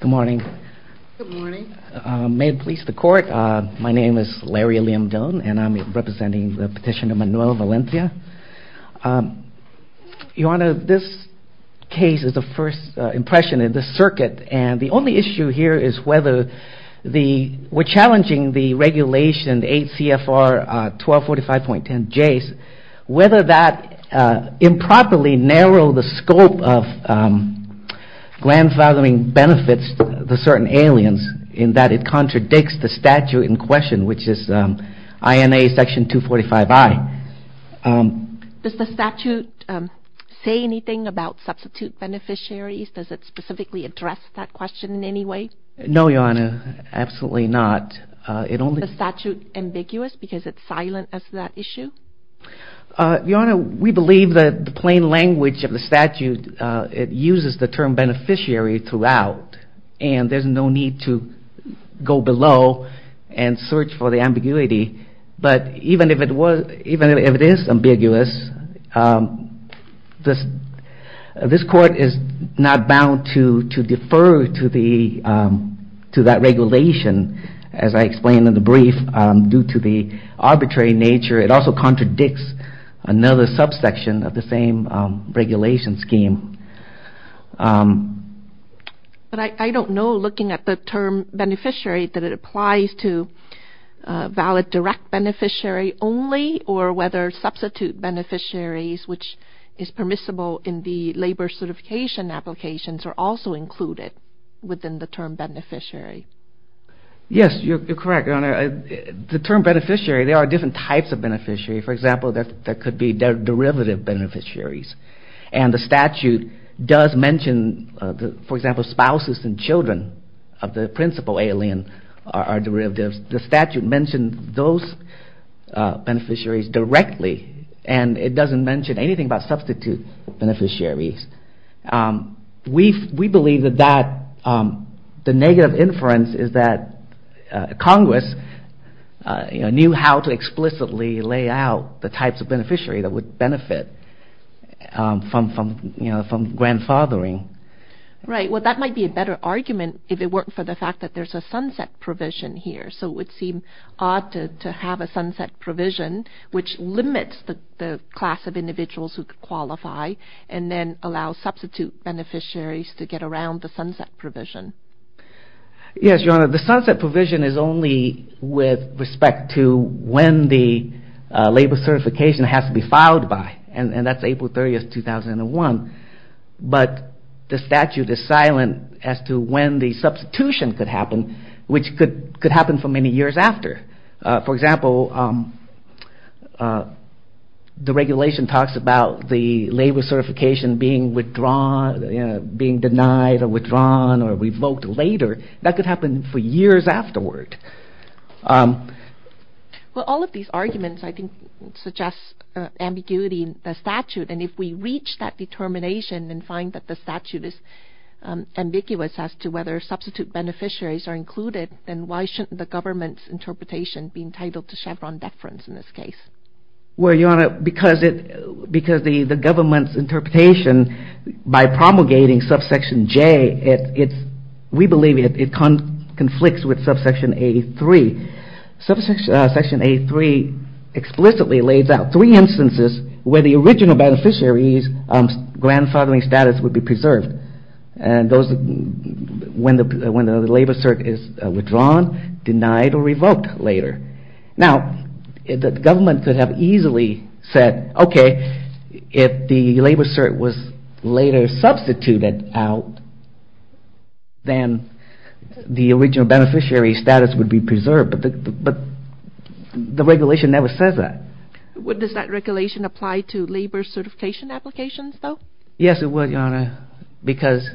Good morning. Good morning. May it please the court, my name is Larry Liam Doan and I'm representing the petitioner Manuel Valencia. Your Honor, this case is the first impression in this circuit and the only issue here is whether the, we're challenging the regulation 8 CFR 1245.10J, whether that improperly narrow the scope of grandfathering benefits to certain aliens in that it contradicts the statute in question which is INA section 245I. Does the statute say anything about substitute beneficiaries? Does it specifically address that question in any way? No, Your Honor, absolutely not. Is the statute ambiguous because it silences that issue? Your Honor, we believe that the plain language of the statute, it uses the term beneficiary throughout and there's no need to go below and search for the ambiguity. But even if it is ambiguous, this court is not bound to defer to that regulation as I explained in the brief due to the arbitrary nature. It also contradicts another subsection of the same regulation scheme. But I don't know looking at the term beneficiary that it applies to valid direct beneficiary only or whether substitute beneficiaries which is permissible in the labor certification applications are also included within the term beneficiary. Yes, you're correct, Your Honor. The term beneficiary, there are different types of beneficiary. For example, there could be derivative beneficiaries. And the statute does mention, for example, spouses and children of the principal alien are derivatives. The statute mentions those beneficiaries directly and it doesn't mention anything about substitute beneficiaries. We believe that the negative inference is that Congress knew how to explicitly lay out the types of beneficiary that would benefit from grandfathering. Right. Well, that might be a better argument if it weren't for the fact that there's a sunset provision here. So it would seem odd to have a sunset provision which limits the class of individuals who could qualify and then allow substitute beneficiaries to get around the sunset provision. Yes, Your Honor. The sunset provision is only with respect to when the labor certification has to be filed by. And that's April 30th, 2001. But the statute is silent as to when the substitution could happen which could happen for many years after. For example, the regulation talks about the labor certification being withdrawn, being denied or withdrawn or revoked later. That could happen for years afterward. Well, all of these arguments, I think, suggest ambiguity in the statute. And if we reach that determination and find that the statute is ambiguous as to whether substitute beneficiaries are included, then why shouldn't the government's interpretation be entitled to Chevron deference in this case? Well, Your Honor, because the government's interpretation by promulgating subsection J, we believe it conflicts with subsection A3. Subsection A3 explicitly lays out three instances where the original beneficiary's grandfathering status would be preserved. When the labor cert is withdrawn, denied or revoked later. Now, the government could have easily said, okay, if the labor cert was later substituted out, then the original beneficiary's status would be preserved. But the regulation never says that. Does that regulation apply to labor certification applications, though? Yes, it would, Your Honor, because...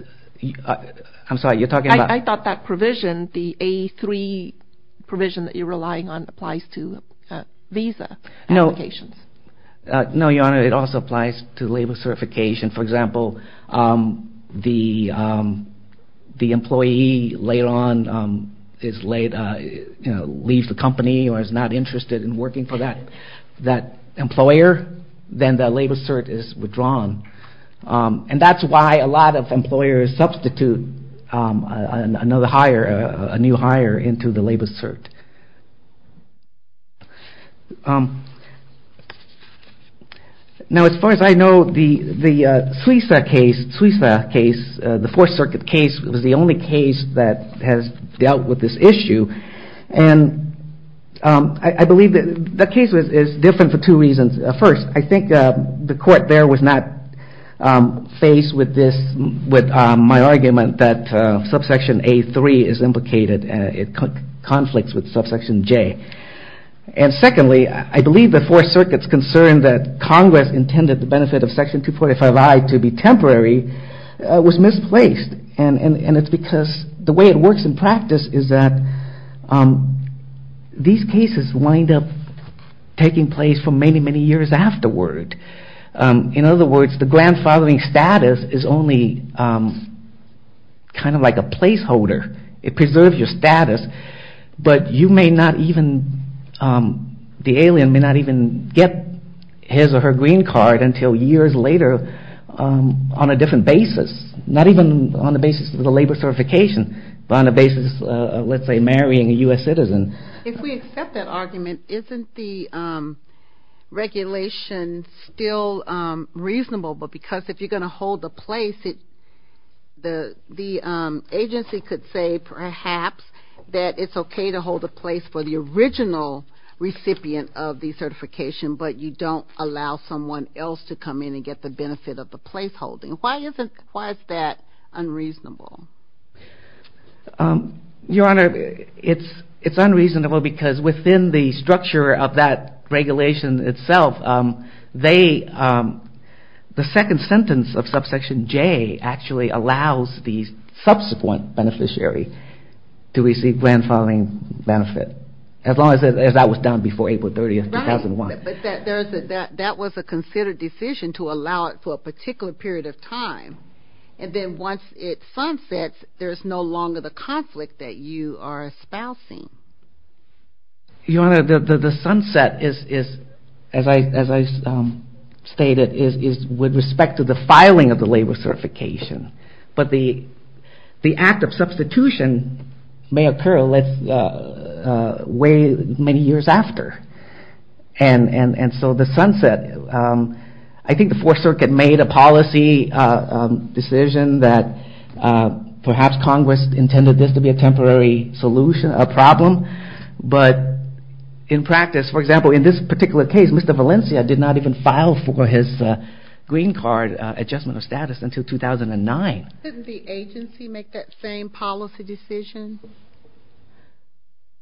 I'm sorry, you're talking about... I thought that provision, the A3 provision that you're relying on, applies to visa applications. No, Your Honor, it also applies to labor certification. For example, the employee later on leaves the company or is not interested in working for that employer, then the labor cert is withdrawn. And that's why a lot of employers substitute another hire, a new hire, into the labor cert. Now, as far as I know, the Suisa case, the Fourth Circuit case, was the only case that has dealt with this issue. And I believe that the case is different for two reasons. First, I think the court there was not faced with my argument that subsection A3 is implicated in conflicts with subsection J. And secondly, I believe the Fourth Circuit's concern that Congress intended the benefit of section 245I to be temporary was misplaced. And it's because the way it works in practice is that these cases wind up taking place for many, many years afterward. In other words, the grandfathering status is only kind of like a placeholder. It preserves your status, but you may not even... the alien may not even get his or her green card until years later on a different basis. Not even on the basis of the labor certification, but on the basis of, let's say, marrying a U.S. citizen. If we accept that argument, isn't the regulation still reasonable? Because if you're going to hold a place, the agency could say perhaps that it's okay to hold a place for the original recipient of the certification, but you don't allow someone else to come in and get the benefit of the placeholding. Why is that unreasonable? Your Honor, it's unreasonable because within the structure of that regulation itself, the second sentence of subsection J actually allows the subsequent beneficiary to receive grandfathering benefit, as long as that was done before April 30, 2001. But that was a considered decision to allow it for a particular period of time, and then once it sunsets, there's no longer the conflict that you are espousing. Your Honor, the sunset, as I stated, is with respect to the filing of the labor certification, but the act of substitution may occur many years after. And so the sunset, I think the Fourth Circuit made a policy decision that perhaps Congress intended this to be a temporary problem, but in practice, for example, in this particular case, Mr. Valencia did not even file for his green card adjustment of status until 2009. Didn't the agency make that same policy decision?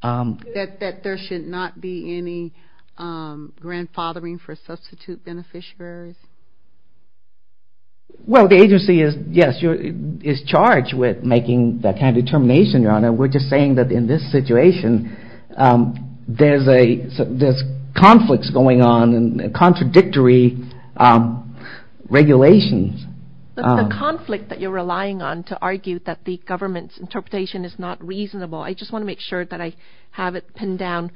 That there should not be any grandfathering for substitute beneficiaries? Well, the agency is charged with making that kind of determination, Your Honor. We're just saying that in this situation, there's conflicts going on and contradictory regulations. But the conflict that you're relying on to argue that the government's interpretation is not reasonable, I just want to make sure that I have it pinned down,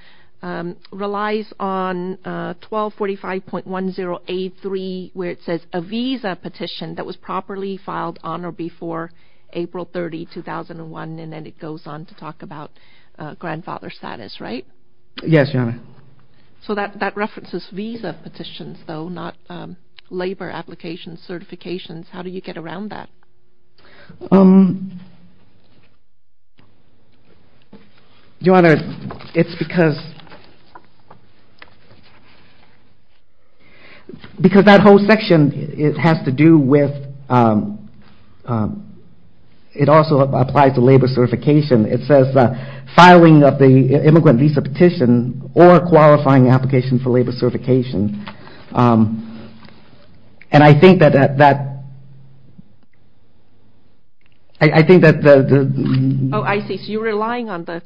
relies on 1245.1083, where it says a visa petition that was properly filed on or before April 30, 2001, and then it goes on to talk about grandfather status, right? Yes, Your Honor. So that references visa petitions, though, not labor applications, certifications. How do you get around that? Your Honor, it's because that whole section has to do with, it also applies to labor certification. It says filing of the immigrant visa petition or qualifying application for labor certification. Oh, I see. So you're relying on the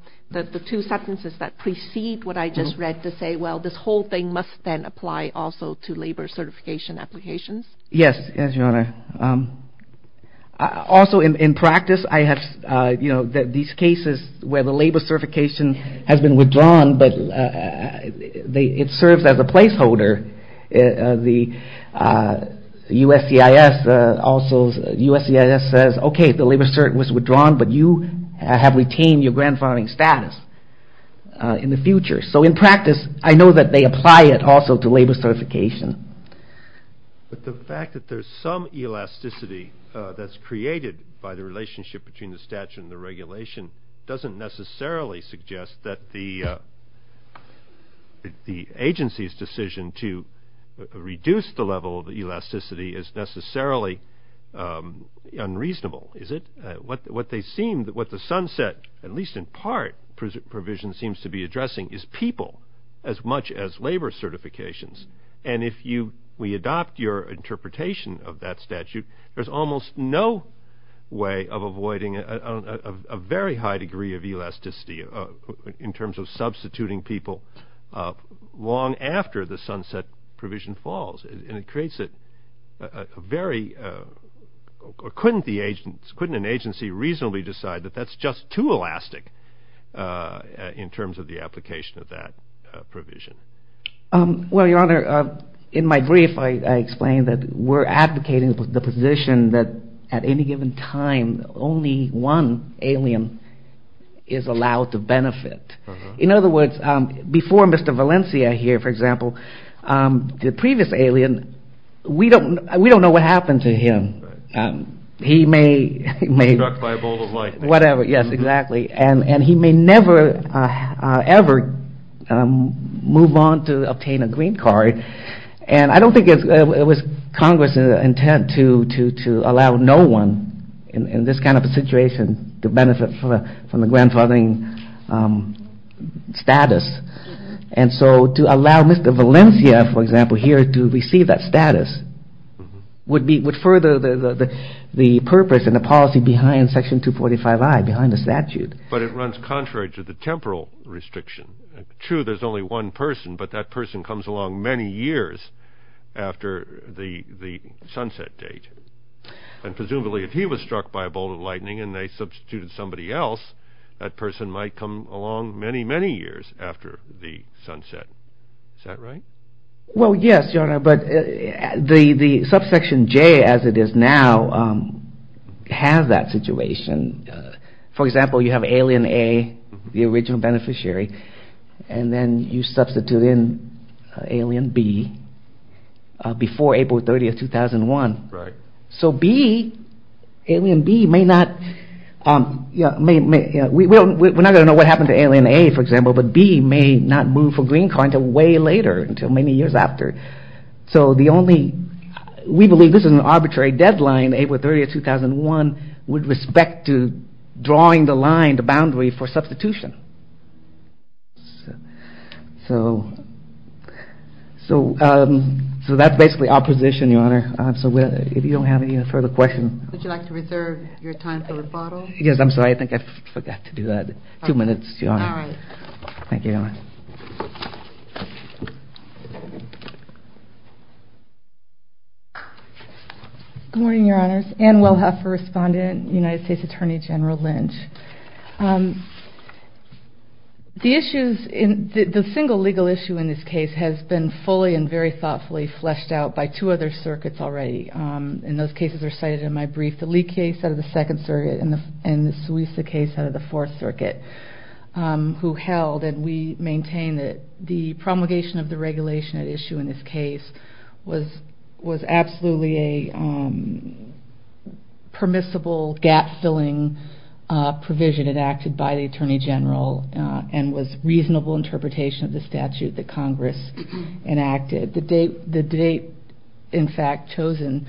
two sentences that precede what I just read to say, well, this whole thing must then apply also to labor certification applications? Yes, Your Honor. Also, in practice, I have these cases where the labor certification has been withdrawn, but it serves as a placeholder. The USCIS also says, okay, the labor cert was withdrawn, but you have retained your grandfathering status in the future. So in practice, I know that they apply it also to labor certification. But the fact that there's some elasticity that's created by the relationship between the statute and the regulation doesn't necessarily suggest that the agency's decision to reduce the level of elasticity is necessarily unreasonable, is it? What they seem, what the sunset, at least in part, provision seems to be addressing is people as much as labor certifications. And if you, we adopt your interpretation of that statute, there's almost no way of avoiding a very high degree of elasticity in terms of substituting people long after the sunset provision falls. And it creates a very, couldn't the agents, couldn't an agency reasonably decide that that's just too elastic in terms of the application of that provision? Well, your honor, in my brief, I explained that we're advocating the position that at any given time, only one alien is allowed to benefit. In other words, before Mr. Valencia here, for example, the previous alien, we don't know what happened to him. He may be struck by a ball of light. Whatever, yes, exactly. And he may never ever move on to obtain a green card. And I don't think it was Congress' intent to allow no one in this kind of a situation to benefit from the grandfathering status. And so to allow Mr. Valencia, for example, here to receive that status would further the purpose and the policy behind Section 245I, behind the statute. But it runs contrary to the temporal restriction. True, there's only one person, but that person comes along many years after the sunset date. And presumably, if he was struck by a ball of lightning and they substituted somebody else, that person might come along many, many years after the sunset. Is that right? Well, yes, Your Honor, but the subsection J as it is now has that situation. For example, you have alien A, the original beneficiary, and then you substitute in alien B before April 30th, 2001. So B, alien B may not, we're not going to know what happened to alien A, for example, but B may not move for green card until way later, until many years after. So the only, we believe this is an arbitrary deadline, April 30th, 2001, with respect to drawing the line, the boundary for substitution. So that's basically opposition, Your Honor. So if you don't have any further questions. Would you like to reserve your time for rebuttal? Yes, I'm sorry, I think I forgot to do that. Two minutes, Your Honor. All right. Thank you, Your Honor. Good morning, Your Honors. Ann Wellhoeffer, Respondent, United States Attorney General Lynch. The issues, the single legal issue in this case has been fully and very thoughtfully fleshed out by two other circuits already. And those cases are cited in my brief. The Lee case out of the Second Circuit and the Suiza case out of the Fourth Circuit, who held and we maintain that the promulgation of the regulation at issue in this case was absolutely a permissible gap-filling provision enacted by the Attorney General and was reasonable interpretation of the statute that Congress enacted. The date, in fact, chosen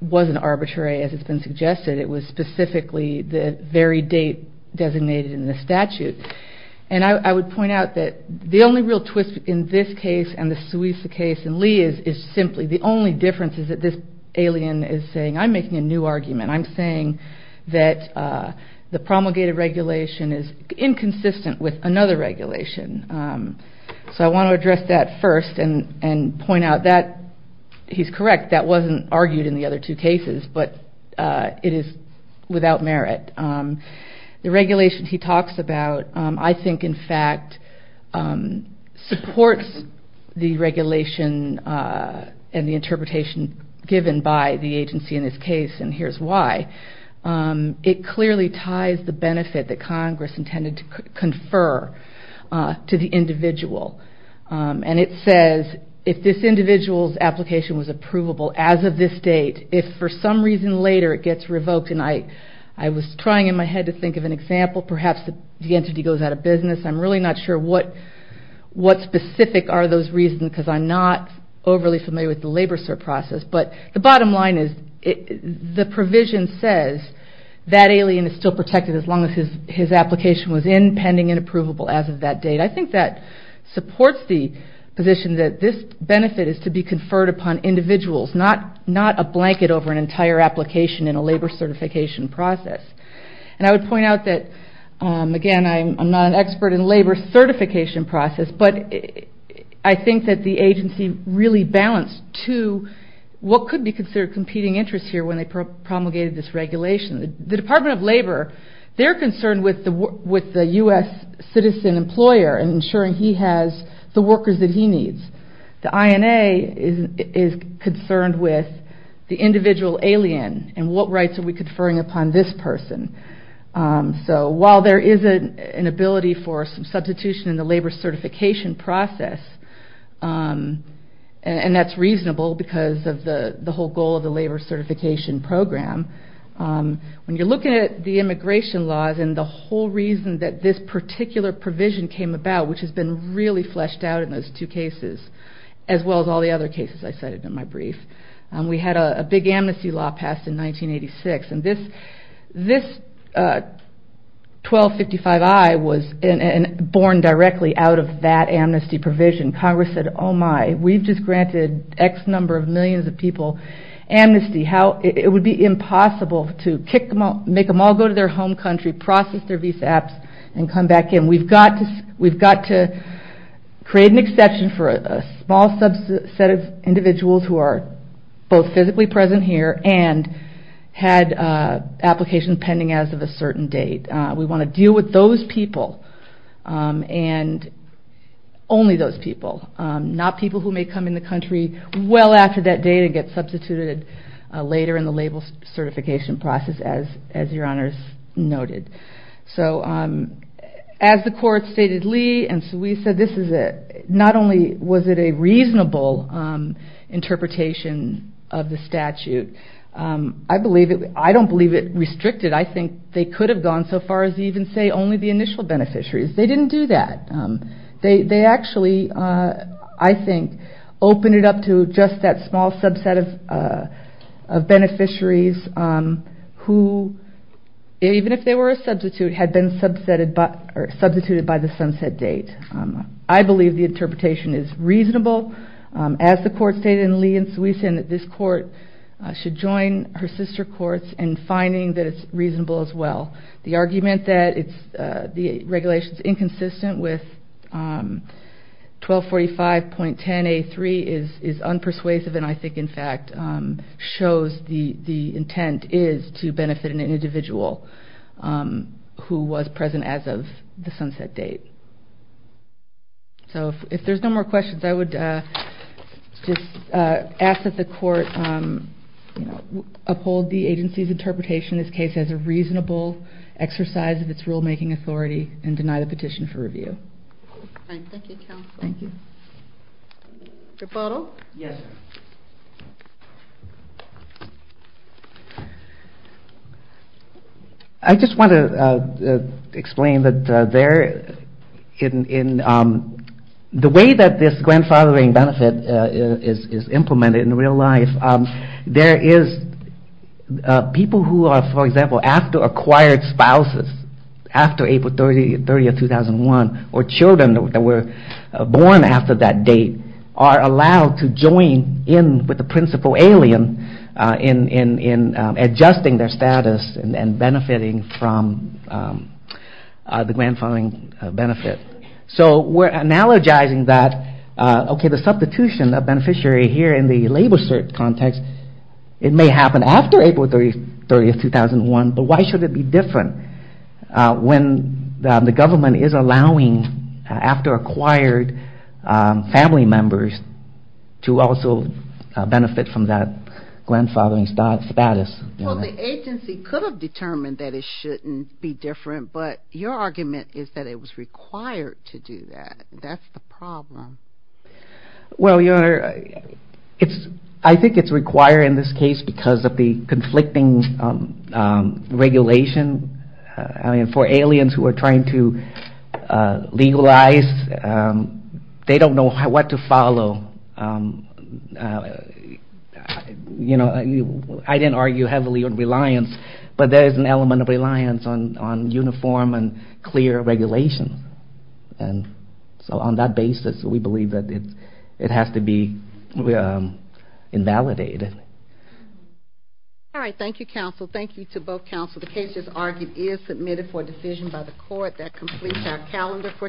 wasn't arbitrary as it's been suggested. It was specifically the very date designated in the statute. And I would point out that the only real twist in this case and the Suiza case and Lee is simply, the only difference is that this alien is saying, I'm making a new argument. I'm saying that the promulgated regulation is inconsistent with another regulation. So I want to address that first and point out that he's correct. That wasn't argued in the other two cases, but it is without merit. The regulation he talks about, I think, in fact, supports the regulation and the interpretation given by the agency in this case and here's why. It clearly ties the benefit that Congress intended to confer to the individual. And it says if this individual's application was approvable as of this date, if for some reason later it gets revoked, and I was trying in my head to think of an example, perhaps the entity goes out of business. I'm really not sure what specific are those reasons because I'm not overly familiar with the labor process. But the bottom line is the provision says that alien is still protected as long as his application was in pending and approvable as of that date. I think that supports the position that this benefit is to be conferred upon individuals, not a blanket over an entire application in a labor certification process. And I would point out that, again, I'm not an expert in labor certification process, but I think that the agency really balanced to what could be considered competing interests here when they promulgated this regulation. The Department of Labor, they're concerned with the U.S. citizen employer and ensuring he has the workers that he needs. The INA is concerned with the individual alien and what rights are we conferring upon this person. So while there is an ability for some substitution in the labor certification process, and that's reasonable because of the whole goal of the labor certification program, when you're looking at the immigration laws and the whole reason that this particular provision came about, which has been really fleshed out in those two cases as well as all the other cases I cited in my brief, we had a big amnesty law passed in 1986. And this 1255I was born directly out of that amnesty provision. Congress said, oh, my, we've just granted X number of millions of people amnesty. It would be impossible to make them all go to their home country, process their visa apps, and come back in. We've got to create an exception for a small subset of individuals who are both physically present here and had applications pending as of a certain date. We want to deal with those people and only those people, not people who may come in the country well after that date and get substituted later in the labor certification process, as your honors noted. So as the court stated, Lee and Sui said, not only was it a reasonable interpretation of the statute, I don't believe it restricted. I think they could have gone so far as to even say only the initial beneficiaries. They didn't do that. They actually, I think, opened it up to just that small subset of beneficiaries who, even if they were a substitute, had been substituted by the sunset date. I believe the interpretation is reasonable. As the court stated, Lee and Sui said that this court should join her sister courts in finding that it's reasonable as well. The argument that the regulation is inconsistent with 1245.10A3 is unpersuasive and I think, in fact, shows the intent is to benefit an individual who was present as of the sunset date. So if there's no more questions, I would just ask that the court uphold the agency's interpretation of this case as a reasonable exercise of its rulemaking authority and deny the petition for review. Thank you, counsel. Thank you. Your photo? Yes. I just want to explain that there, in the way that this grandfathering benefit is implemented in real life, there is people who are, for example, after acquired spouses, after April 30, 2001, or children that were born after that date are allowed to join in with the principal alien in adjusting their status and benefiting from the grandfathering benefit. So we're analogizing that, okay, the substitution of beneficiary here in the labor cert context, it may happen after April 30, 2001, but why should it be different when the government is allowing after acquired family members to also benefit from that grandfathering status? Well, the agency could have determined that it shouldn't be different, but your argument is that it was required to do that. That's the problem. Well, your Honor, I think it's required in this case because of the conflicting regulation. I mean, for aliens who are trying to legalize, they don't know what to follow. You know, I didn't argue heavily on reliance, but there is an element of reliance on uniform and clear regulation. And so on that basis, we believe that it has to be invalidated. All right. Thank you, counsel. Thank you to both counsel. The case, as argued, is submitted for decision by the court. That completes our calendar for today.